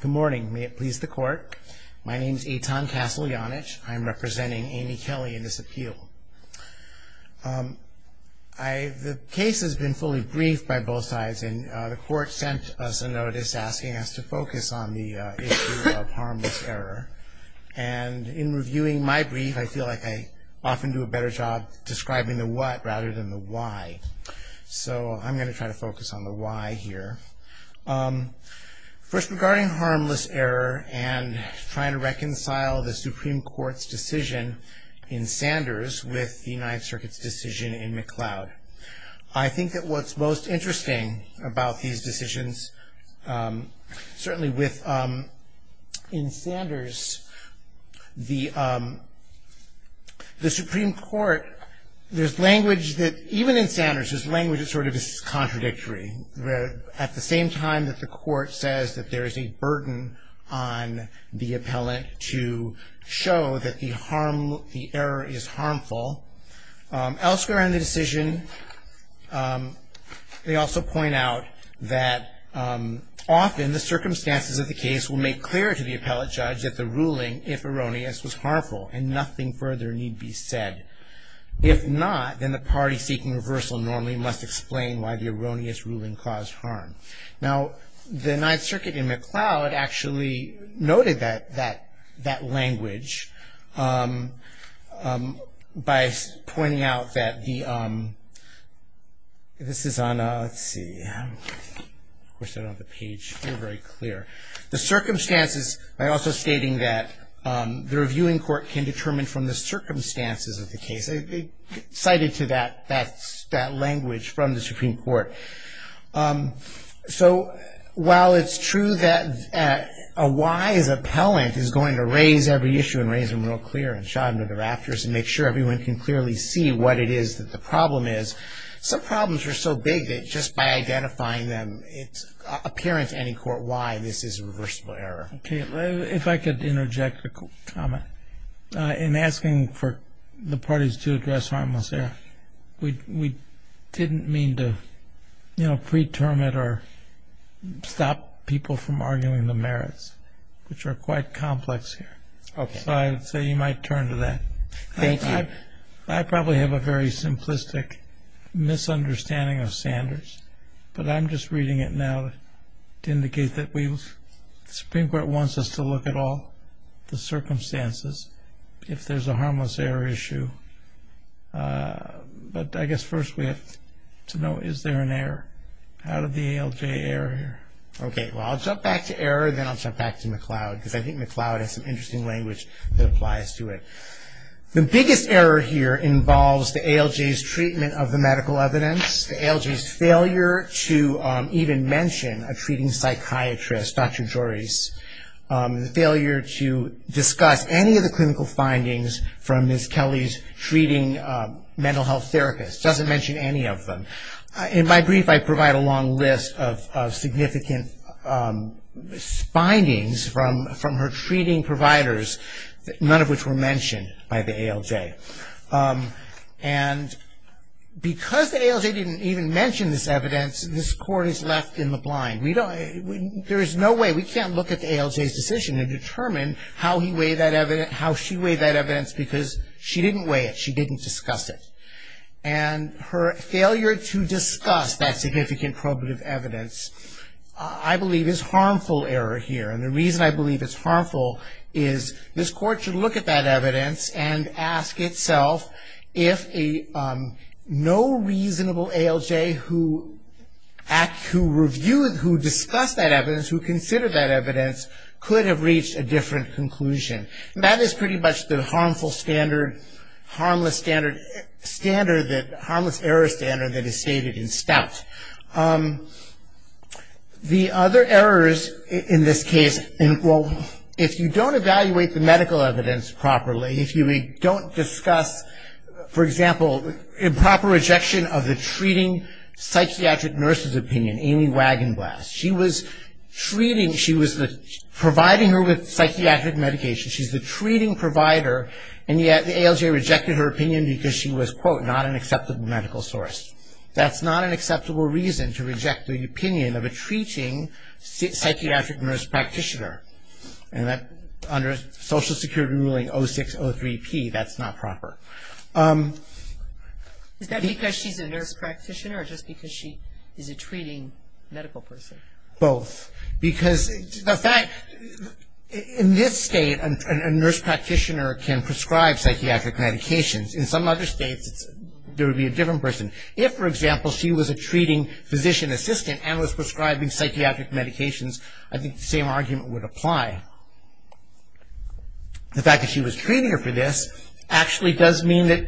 Good morning. May it please the court. My name is Eitan Kassel Janich. I'm representing Amy Kelly in this appeal. The case has been fully briefed by both sides and the court sent us a notice asking us to focus on the issue of harmless error. And in reviewing my brief I feel like I often do a better job describing the what rather than the why. So I'm going to try to focus on the why here. First regarding harmless error and trying to reconcile the Supreme Court's decision in Sanders with the United Circuit's decision in McLeod. I think that what's most interesting about these decisions certainly with in Sanders the Supreme Court, there's language that even in Sanders, there's language that sort of is contradictory. At the same time that the court says that there is a burden on the appellate to show that the harm, the error is harmful. Elsewhere in the decision they also point out that often the circumstances of the case will make clear to the appellate judge that the ruling, if erroneous, was harmful and nothing further need be said. If not, then the party seeking reversal normally must explain why the erroneous ruling caused harm. Now the Ninth Circuit in McLeod actually noted that language by pointing out that the, this is on a, let's see. Of course they're not on the page. They're very clear. The circumstances by also stating that the reviewing court can determine from the circumstances of the case. They cited to that language from the Supreme Court. So while it's true that a wise appellant is going to raise every issue and raise them real clear and shot them to the rafters and make sure everyone can clearly see what it is that the problem is, some problems are so big that just by identifying them it's apparent to any court why this is a reversible error. Okay. If I could interject a comment in asking for the parties to address harmless error. We didn't mean to, you know, pre-term it or stop people from arguing the merits, which are quite complex here. Okay. So you might turn to that. Thank you. I probably have a very simplistic misunderstanding of standards, but I'm just reading it now to indicate that we, the Supreme Court wants us to look at all the circumstances if there's a harmless error issue. But I guess first we have to know is there an error. How did the ALJ error here? Okay. Well, I'll jump back to error and then I'll jump back to McLeod because I think McLeod has some interesting language that applies to it. The biggest error here involves the ALJ's treatment of the medical evidence, the ALJ's failure to even mention a treating psychiatrist, Dr. Joris, the failure to discuss any of the clinical findings from Ms. Kelly's treating mental health therapist, doesn't mention any of them. In my brief I provide a long list of significant findings from her treating providers, none of which were mentioned by the ALJ. And because the ALJ didn't even mention this evidence, this Court is left in the blind. There is no way, we can't look at the ALJ's decision and determine how he weighed that evidence, how she weighed that evidence, because she didn't weigh it, she didn't discuss it. And her failure to discuss that significant probative evidence I believe is harmful error here. And the reason I believe it's harmful is this Court should look at that evidence and ask itself if no reasonable ALJ who discussed that evidence, who considered that evidence could have reached a different conclusion. And that is pretty much the harmful standard, harmless error standard that is stated in Stout. The other errors in this case, well, if you don't evaluate the medical evidence properly, if you don't discuss, for example, improper rejection of the treating psychiatric nurse's opinion, Amy Wagenblas. She was treating, she was providing her with psychiatric medication, she's the treating provider, and yet the ALJ rejected her opinion because she was, quote, not an acceptable medical source. That's not an acceptable reason to reject the opinion of a treating psychiatric nurse practitioner. And under Social Security ruling 0603P, that's not proper. Is that because she's a nurse practitioner or just because she is a treating medical person? Both. Because the fact, in this state, a nurse practitioner can prescribe psychiatric medications. In some other states, there would be a different person. If, for example, she was a treating physician assistant and was prescribing psychiatric medications, I think the same argument would apply. The fact that she was treating her for this actually does mean that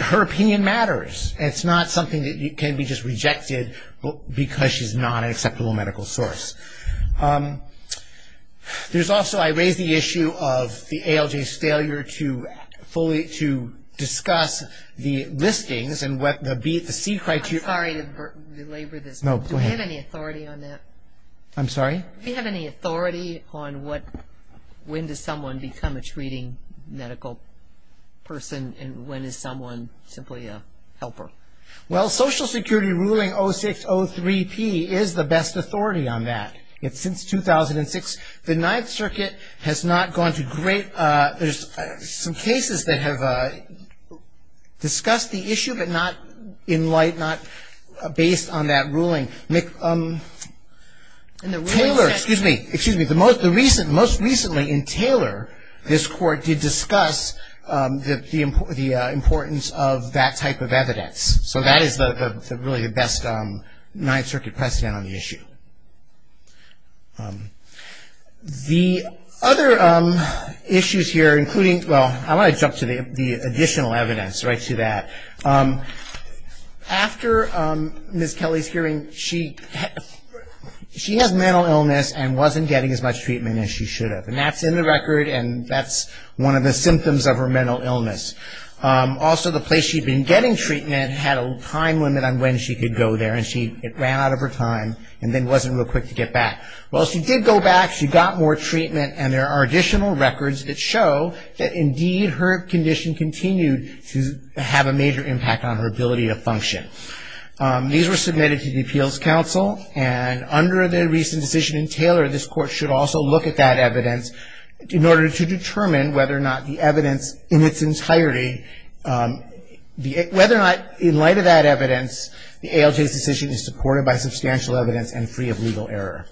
her opinion matters. It's not something that can be just rejected because she's not an acceptable medical source. There's also, I raised the issue of the ALJ's failure to discuss the listings and the C criteria. I'm sorry to belabor this. No, go ahead. Do we have any authority on that? I'm sorry? Do we have any authority on when does someone become a treating medical person and when is someone simply a helper? Well, Social Security ruling 0603P is the best authority on that. It's since 2006. The Ninth Circuit has not gone to great, there's some cases that have discussed the issue but not in light, not based on that ruling. Taylor, excuse me. Most recently in Taylor, this court did discuss the importance of that type of evidence. So that is really the best Ninth Circuit precedent on the issue. The other issues here including, well, I want to jump to the additional evidence right to that. After Ms. Kelly's hearing, she has mental illness and wasn't getting as much treatment as she should have. And that's in the record and that's one of the symptoms of her mental illness. Also, the place she'd been getting treatment had a time limit on when she could go there and it ran out of her time and then wasn't real quick to get back. Well, she did go back, she got more treatment, and there are additional records that show that indeed her condition continued to have a major impact on her ability to function. These were submitted to the Appeals Council and under the recent decision in Taylor, this court should also look at that evidence in order to determine whether or not the evidence in its entirety, whether or not in light of that evidence, the ALJ's decision is supported by substantial evidence and free of legal error.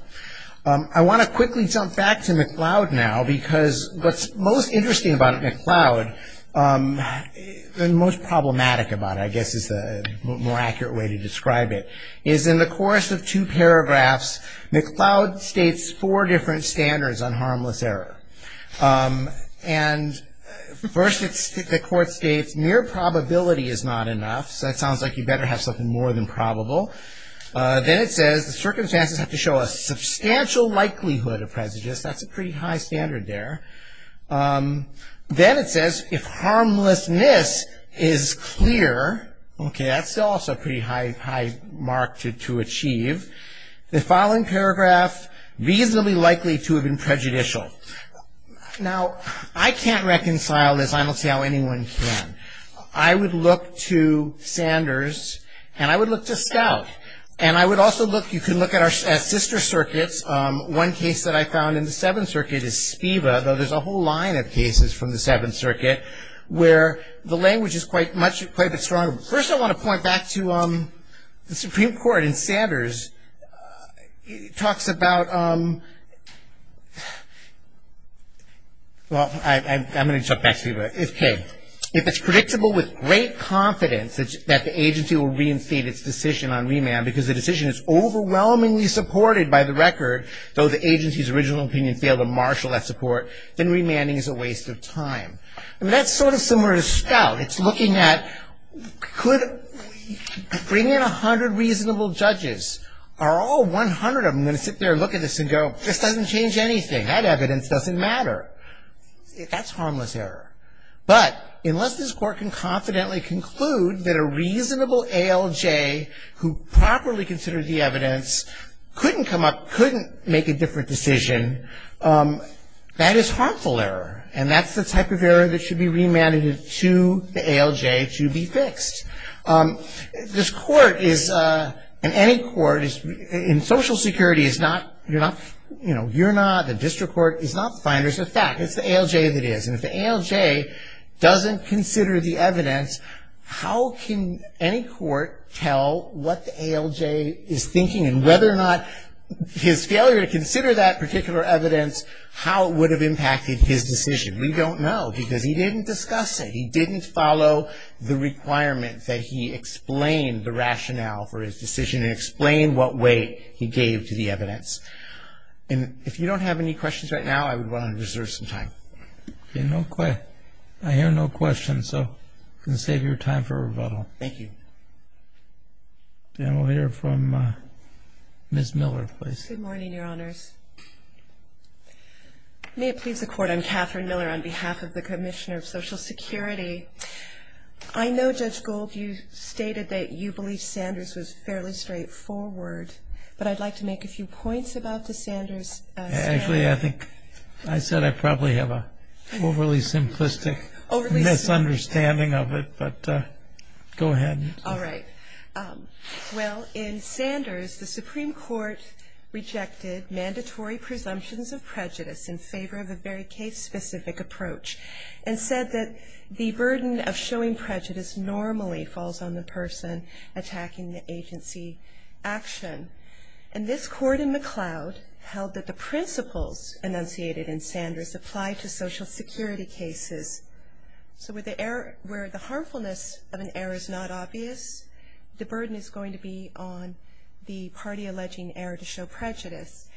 I want to quickly jump back to McLeod now because what's most interesting about McLeod and most problematic about it, I guess is the more accurate way to describe it, is in the course of two paragraphs, McLeod states four different standards on harmless error. And first the court states, mere probability is not enough, so that sounds like you better have something more than probable. Then it says the circumstances have to show a substantial likelihood of prejudice. That's a pretty high standard there. Then it says if harmlessness is clear, okay, that's also a pretty high mark to achieve. The following paragraph, reasonably likely to have been prejudicial. Now, I can't reconcile this. I don't see how anyone can. I would look to Sanders and I would look to Stout. And I would also look, you can look at our sister circuits. One case that I found in the Seventh Circuit is SPIVA, though there's a whole line of cases from the Seventh Circuit where the language is quite a bit stronger. First I want to point back to the Supreme Court in Sanders. It talks about, well, I'm going to jump back to SPIVA. Okay, if it's predictable with great confidence that the agency will reinstate its decision on remand because the decision is overwhelmingly supported by the record, though the agency's original opinion failed to marshal that support, then remanding is a waste of time. That's sort of similar to Stout. It's looking at could bringing in 100 reasonable judges, are all 100 of them going to sit there and look at this and go, this doesn't change anything. That evidence doesn't matter. That's harmless error. But unless this court can confidently conclude that a reasonable ALJ who properly considered the evidence couldn't come up, couldn't make a different decision, that is harmful error. And that's the type of error that should be remanded to the ALJ to be fixed. This court is, and any court in Social Security is not, you know, you're not, the district court is not finders of fact. It's the ALJ that is. And if the ALJ doesn't consider the evidence, how can any court tell what the ALJ is thinking and whether or not his failure to consider that particular evidence, how it would have impacted his decision. We don't know because he didn't discuss it. He didn't follow the requirement that he explain the rationale for his decision and explain what way he gave to the evidence. And if you don't have any questions right now, I would want to reserve some time. Okay. I hear no questions, so I'm going to save your time for rebuttal. Thank you. And we'll hear from Ms. Miller, please. Good morning, Your Honors. May it please the Court, I'm Catherine Miller on behalf of the Commissioner of Social Security. I know, Judge Gold, you stated that you believe Sanders was fairly straightforward, but I'd like to make a few points about the Sanders. Actually, I think I said I probably have an overly simplistic misunderstanding of it, but go ahead. All right. Well, in Sanders, the Supreme Court rejected mandatory presumptions of prejudice in favor of a very case-specific approach and said that the burden of showing prejudice normally falls on the person attacking the agency action. And this court in McLeod held that the principles enunciated in Sanders apply to Social Security cases. So where the harmfulness of an error is not obvious, the burden is going to be on the party alleging error to show prejudice.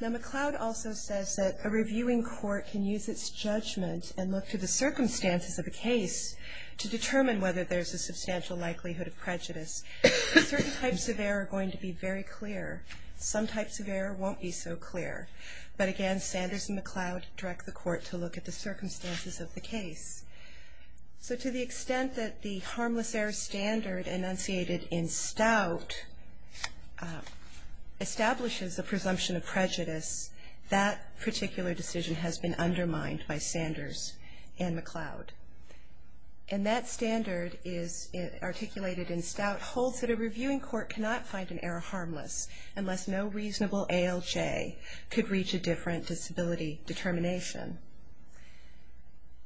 Now, McLeod also says that a reviewing court can use its judgment and look to the circumstances of a case to determine whether there's a substantial likelihood of prejudice. Certain types of error are going to be very clear. Some types of error won't be so clear. But again, Sanders and McLeod direct the court to look at the circumstances of the case. So to the extent that the harmless error standard enunciated in Stout establishes a presumption of prejudice, that particular decision has been undermined by Sanders and McLeod. McLeod holds that a reviewing court cannot find an error harmless unless no reasonable ALJ could reach a different disability determination.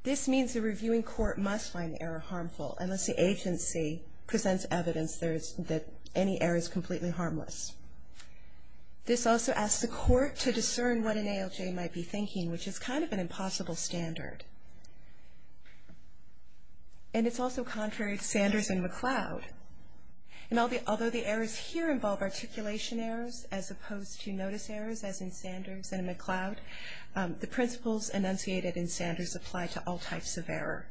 This means the reviewing court must find the error harmful unless the agency presents evidence that any error is completely harmless. This also asks the court to discern what an ALJ might be thinking, which is kind of an impossible standard. And it's also contrary to Sanders and McLeod. And although the errors here involve articulation errors as opposed to notice errors, as in Sanders and McLeod, the principles enunciated in Sanders apply to all types of error.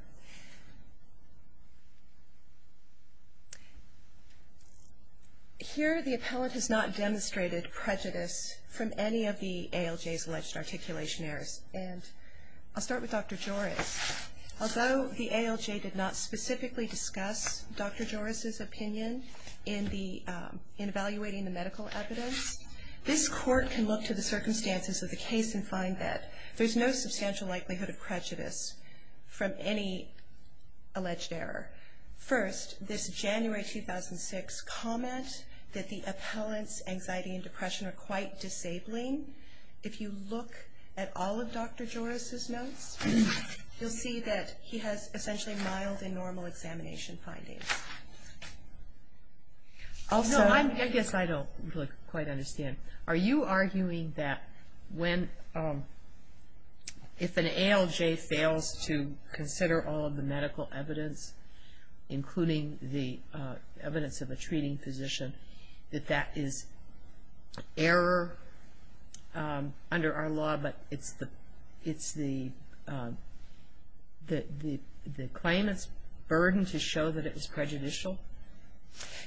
Here the appellant has not demonstrated prejudice from any of the ALJ's alleged articulation errors. And I'll start with Dr. Joris. Although the ALJ did not specifically discuss Dr. Joris's opinion in evaluating the medical evidence, this court can look to the circumstances of the case and find that there's no substantial likelihood of prejudice from any alleged error. First, this January 2006 comment that the appellant's anxiety and depression are quite disabling, if you look at all of Dr. Joris's notes, you'll see that he has essentially mild and normal examination findings. Also, I guess I don't quite understand. Are you arguing that if an ALJ fails to consider all of the medical evidence, including the evidence of a treating physician, that that is error under our law, but it's the claimant's burden to show that it was prejudicial?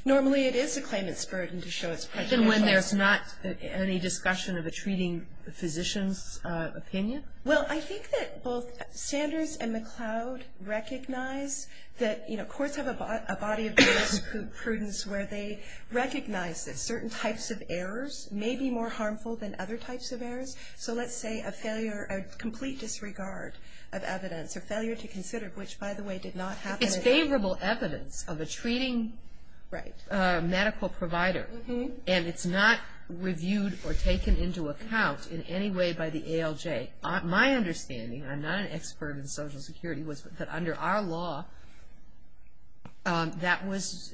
Normally it is the claimant's burden to show it's prejudicial. Even when there's not any discussion of a treating physician's opinion? Well, I think that both Sanders and McLeod recognize that, you know, courts have a body of jurisprudence where they recognize that certain types of errors may be more harmful than other types of errors. So let's say a failure, a complete disregard of evidence, or failure to consider, which, by the way, did not happen. It's favorable evidence of a treating medical provider. And it's not reviewed or taken into account in any way by the ALJ. My understanding, I'm not an expert in Social Security, was that under our law that was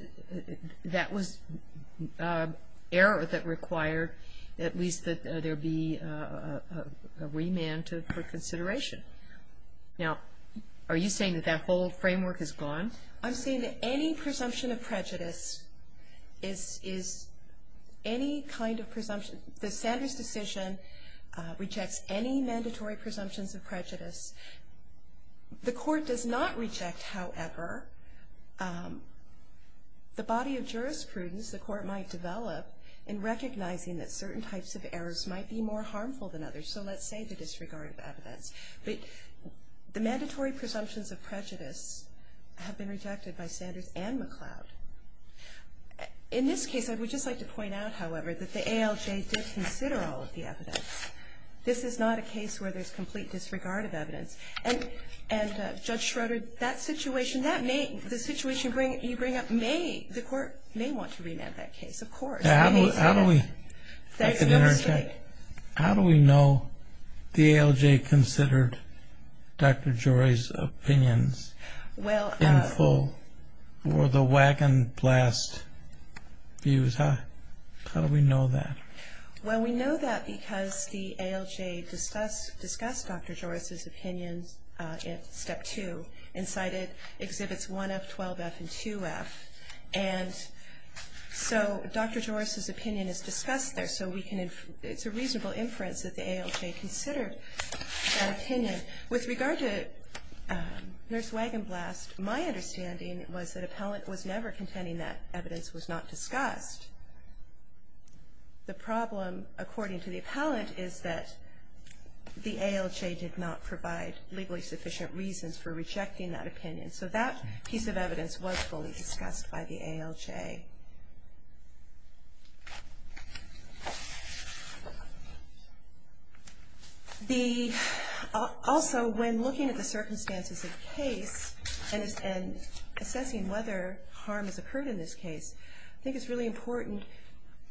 error that required at least that there be a remand for consideration. Now, are you saying that that whole framework is gone? I'm saying that any presumption of prejudice is any kind of presumption. The Sanders decision rejects any mandatory presumptions of prejudice. The court does not reject, however, the body of jurisprudence the court might develop in recognizing that certain types of errors might be more harmful than others. So let's say the disregard of evidence. The mandatory presumptions of prejudice have been rejected by Sanders and McLeod. In this case, I would just like to point out, however, that the ALJ did consider all of the evidence. This is not a case where there's complete disregard of evidence. And Judge Schroeder, that situation, the situation you bring up, the court may want to remand that case, of course. How do we know the ALJ considered Dr. Joy's opinions in full or the Wagon Blast views? How do we know that? Well, we know that because the ALJ discussed Dr. Joy's opinions in Step 2 and cited Exhibits 1F, 12F, and 2F. And so Dr. Joy's opinion is discussed there. So it's a reasonable inference that the ALJ considered that opinion. With regard to Nurse Wagon Blast, my understanding was that appellant was never contending that evidence was not discussed. The problem, according to the appellant, is that the ALJ did not provide legally sufficient reasons for rejecting that opinion. So that piece of evidence was fully discussed by the ALJ. Also, when looking at the circumstances of the case and assessing whether harm has occurred in this case, I think it's really important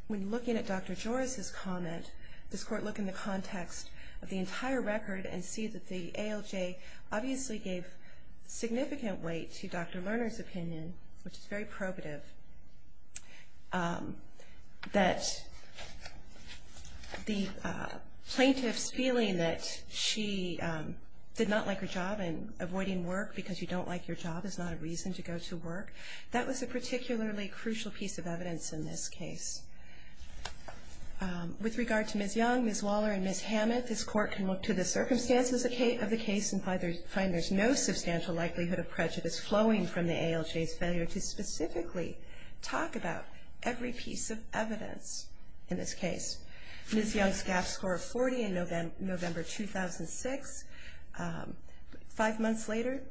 when looking at Dr. Joy's comment, this court look in the context of the entire record and see that the ALJ obviously gave significant weight to Dr. Lerner's opinion, which is very probative, that the plaintiff's feeling that she did not like her job and avoiding work because you don't like your job is not a reason to go to work, that was a particularly crucial piece of evidence in this case. With regard to Ms. Young, Ms. Waller, and Ms. Hammett, this court can look to the circumstances of the case and find there's no substantial likelihood of prejudice flowing from the ALJ's failure to specifically talk about every piece of evidence in this case. Ms. Young's GAAP score of 40 in November 2006. Five months later,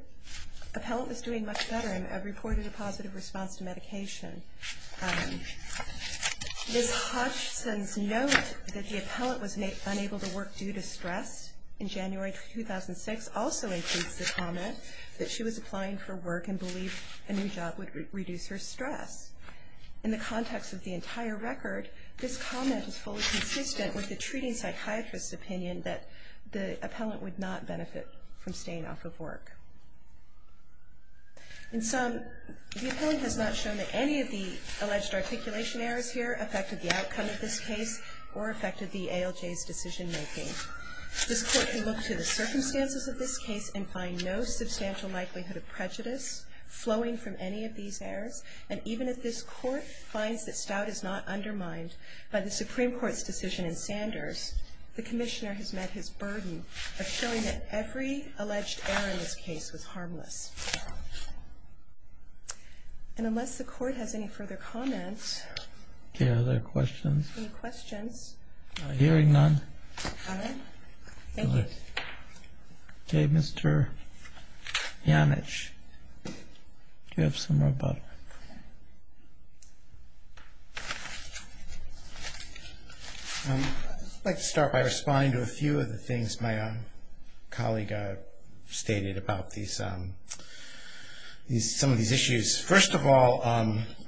appellant was doing much better and reported a positive response to medication. Ms. Hutchison's note that the appellant was unable to work due to stress in January 2006 also includes the comment that she was applying for work and believed a new job would reduce her stress. In the context of the entire record, this comment is fully consistent with the treating psychiatrist's opinion that the appellant would not benefit from staying off of work. In sum, the appellant has not shown that any of the alleged articulation errors here affected the outcome of this case or affected the ALJ's decision making. This court can look to the circumstances of this case and find no substantial likelihood of prejudice flowing from any of these errors and even if this court finds that stout is not undermined by the Supreme Court's decision in Sanders, the commissioner has met his burden of showing that every alleged error in this case was harmless. And unless the court has any further comments. Any other questions? Any questions? Hearing none. All right. Thank you. Okay, Mr. Janich, do you have some more about it? I'd like to start by responding to a few of the things my colleague stated about some of these issues. First of all,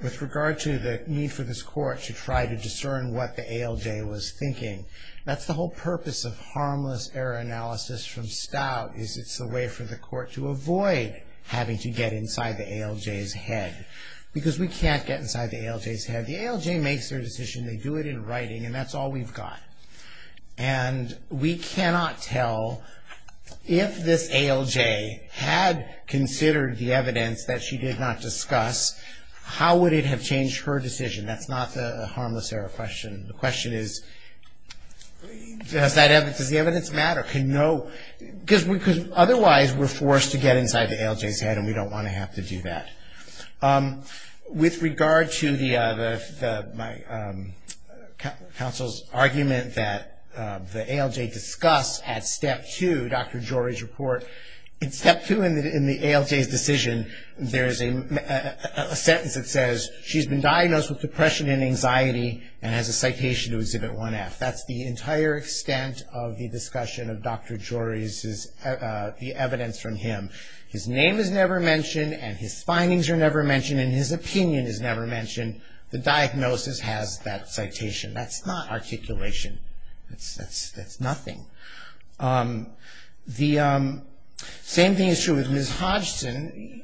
with regard to the need for this court to try to discern what the ALJ was thinking, that's the whole purpose of harmless error analysis from stout, is it's a way for the court to avoid having to get inside the ALJ's head. Because we can't get inside the ALJ's head. The ALJ makes their decision, they do it in writing, and that's all we've got. And we cannot tell if this ALJ had considered the evidence that she did not discuss, how would it have changed her decision? That's not the harmless error question. The question is, does the evidence matter? Because otherwise we're forced to get inside the ALJ's head and we don't want to have to do that. With regard to my counsel's argument that the ALJ discussed at Step 2, Dr. Jory's report, in Step 2 in the ALJ's decision there is a sentence that says, she's been diagnosed with depression and anxiety and has a citation to exhibit 1F. That's the entire extent of the discussion of Dr. Jory's, the evidence from him. His name is never mentioned and his findings are never mentioned and his opinion is never mentioned. The diagnosis has that citation. That's not articulation. That's nothing. The same thing is true with Ms. Hodgson.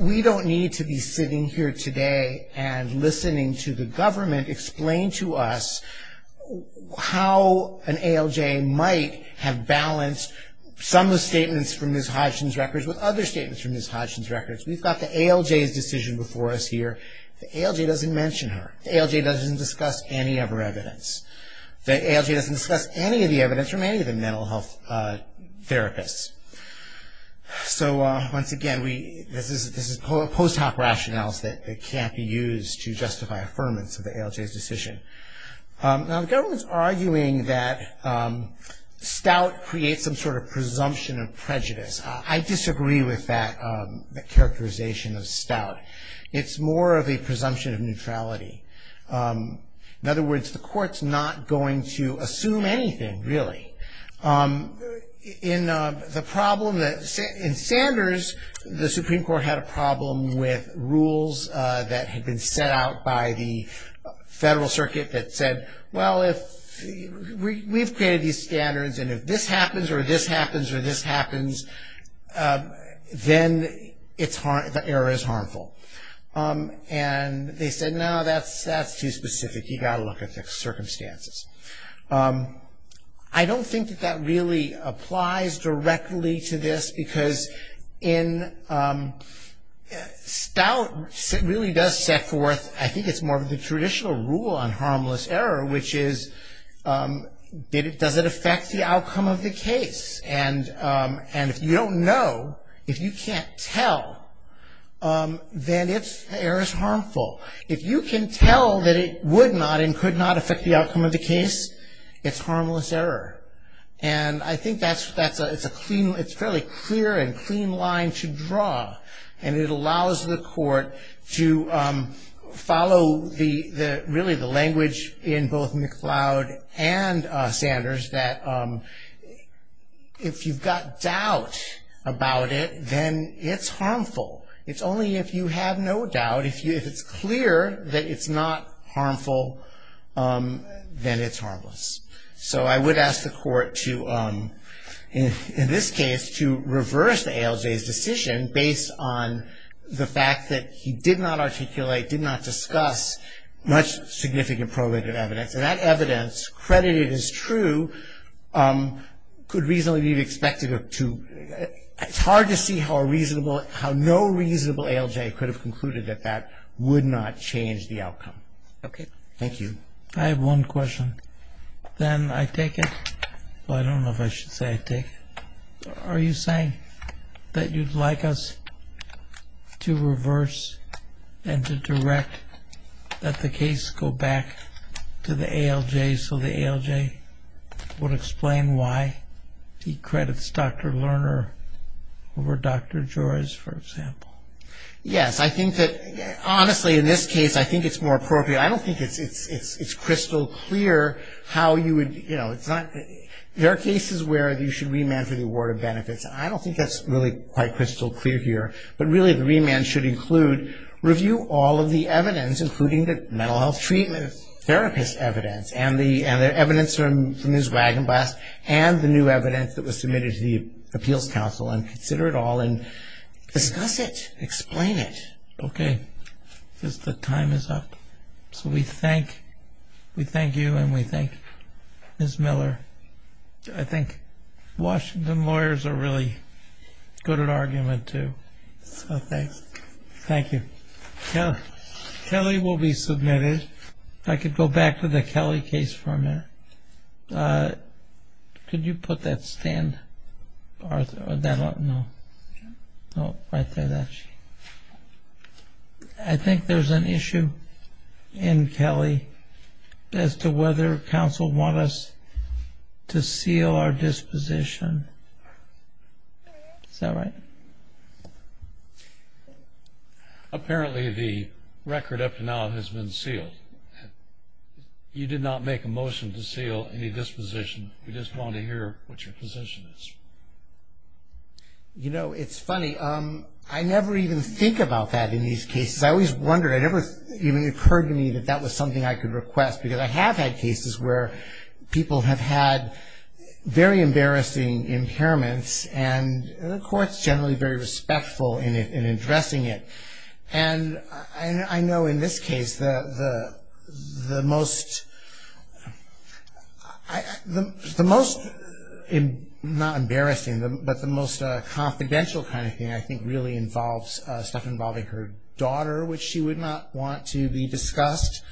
We don't need to be sitting here today and listening to the government explain to us how an ALJ might have balanced some of the statements from Ms. Hodgson's records with other statements from Ms. Hodgson's records. We've got the ALJ's decision before us here. The ALJ doesn't mention her. The ALJ doesn't discuss any of her evidence. The ALJ doesn't discuss any of the evidence from any of the mental health therapists. So, once again, this is post hoc rationales that can't be used to justify affirmance of the ALJ's decision. Now, the government's arguing that stout creates some sort of presumption of prejudice. I disagree with that characterization of stout. It's more of a presumption of neutrality. In other words, the court's not going to assume anything, really. In Sanders, the Supreme Court had a problem with rules that had been set out by the federal circuit that said, well, we've created these standards, and if this happens or this happens or this happens, then the error is harmful. And they said, no, that's too specific. You've got to look at the circumstances. I don't think that that really applies directly to this, because stout really does set forth, I think it's more of the traditional rule on harmless error, which is, does it affect the outcome of the case? And if you don't know, if you can't tell, then the error's harmful. If you can tell that it would not and could not affect the outcome of the case, it's harmless error. And I think that's a clean, it's a fairly clear and clean line to draw, and it allows the court to follow really the language in both McLeod and Sanders that if you've got doubt about it, then it's harmful. It's only if you have no doubt, if it's clear that it's not harmful, then it's harmless. So I would ask the court to, in this case, to reverse the ALJ's decision based on the fact that he did not articulate, did not discuss much significant probative evidence. And that evidence, credited as true, could reasonably be expected to, it's hard to see how a reasonable, how no reasonable ALJ could have concluded that that would not change the outcome. Thank you. I have one question. Then I take it, well I don't know if I should say I take it. Are you saying that you'd like us to reverse and to direct that the case go back to the ALJ so the ALJ would explain why he credits Dr. Lerner over Dr. Joyce, for example? Yes. I think that, honestly, in this case, I think it's more appropriate. I don't think it's crystal clear how you would, you know, there are cases where you should remand for the award of benefits, and I don't think that's really quite crystal clear here. But really the remand should include review all of the evidence, including the mental health treatment therapist evidence, and the evidence from Ms. Wagenblast, and the new evidence that was submitted to the appeals council, and consider it all and discuss it, explain it. Okay. The time is up. So we thank you and we thank Ms. Miller. I think Washington lawyers are really good at argument too. So thanks. Thank you. Kelly will be submitted. If I could go back to the Kelly case for a minute. Could you put that stand up? No. Right there. I think there's an issue in Kelly as to whether council want us to seal our disposition. Is that right? Apparently the record up to now has been sealed. You did not make a motion to seal any disposition. We just wanted to hear what your position is. You know, it's funny. I never even think about that in these cases. I always wondered. It never even occurred to me that that was something I could request, because I have had cases where people have had very embarrassing impairments, and the court's generally very respectful in addressing it. And I know in this case the most, not embarrassing, but the most confidential kind of thing I think really involves stuff involving her daughter, which she would not want to be discussed.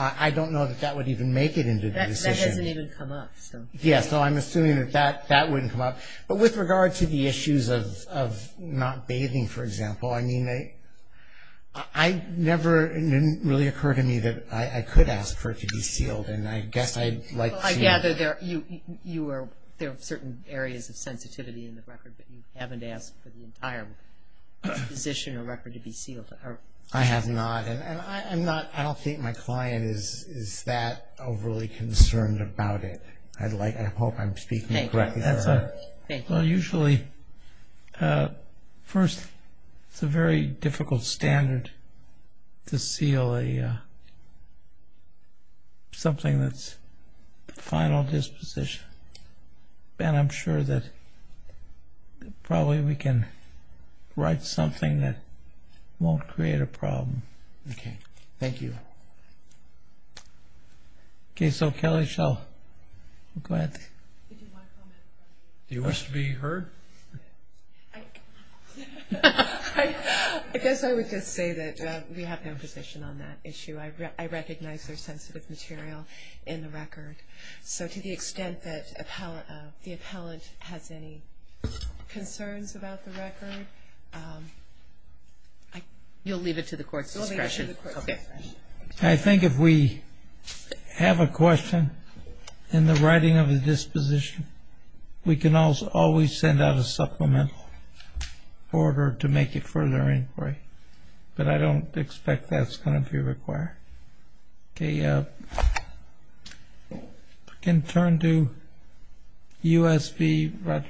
I don't know that that would even make it into the decision. That hasn't even come up. Yes. So I'm assuming that that wouldn't come up. But with regard to the issues of not bathing, for example, I mean, it never really occurred to me that I could ask for it to be sealed, and I guess I'd like to. I gather there are certain areas of sensitivity in the record, but you haven't asked for the entire disposition or record to be sealed. I have not. I don't think my client is that overly concerned about it. I hope I'm speaking correctly. Thank you. Well, usually first it's a very difficult standard to seal something that's the final disposition. And I'm sure that probably we can write something that won't create a problem. Okay. Thank you. Okay. So Kelly shall go ahead. Do you wish to be heard? I guess I would just say that we have no position on that issue. I recognize there's sensitive material in the record. So to the extent that the appellant has any concerns about the record, you'll leave it to the court's discretion. I think if we have a question in the writing of the disposition, we can always send out a supplemental order to make it further inquiry. But I don't expect that's going to be required. Okay. We can turn to USB.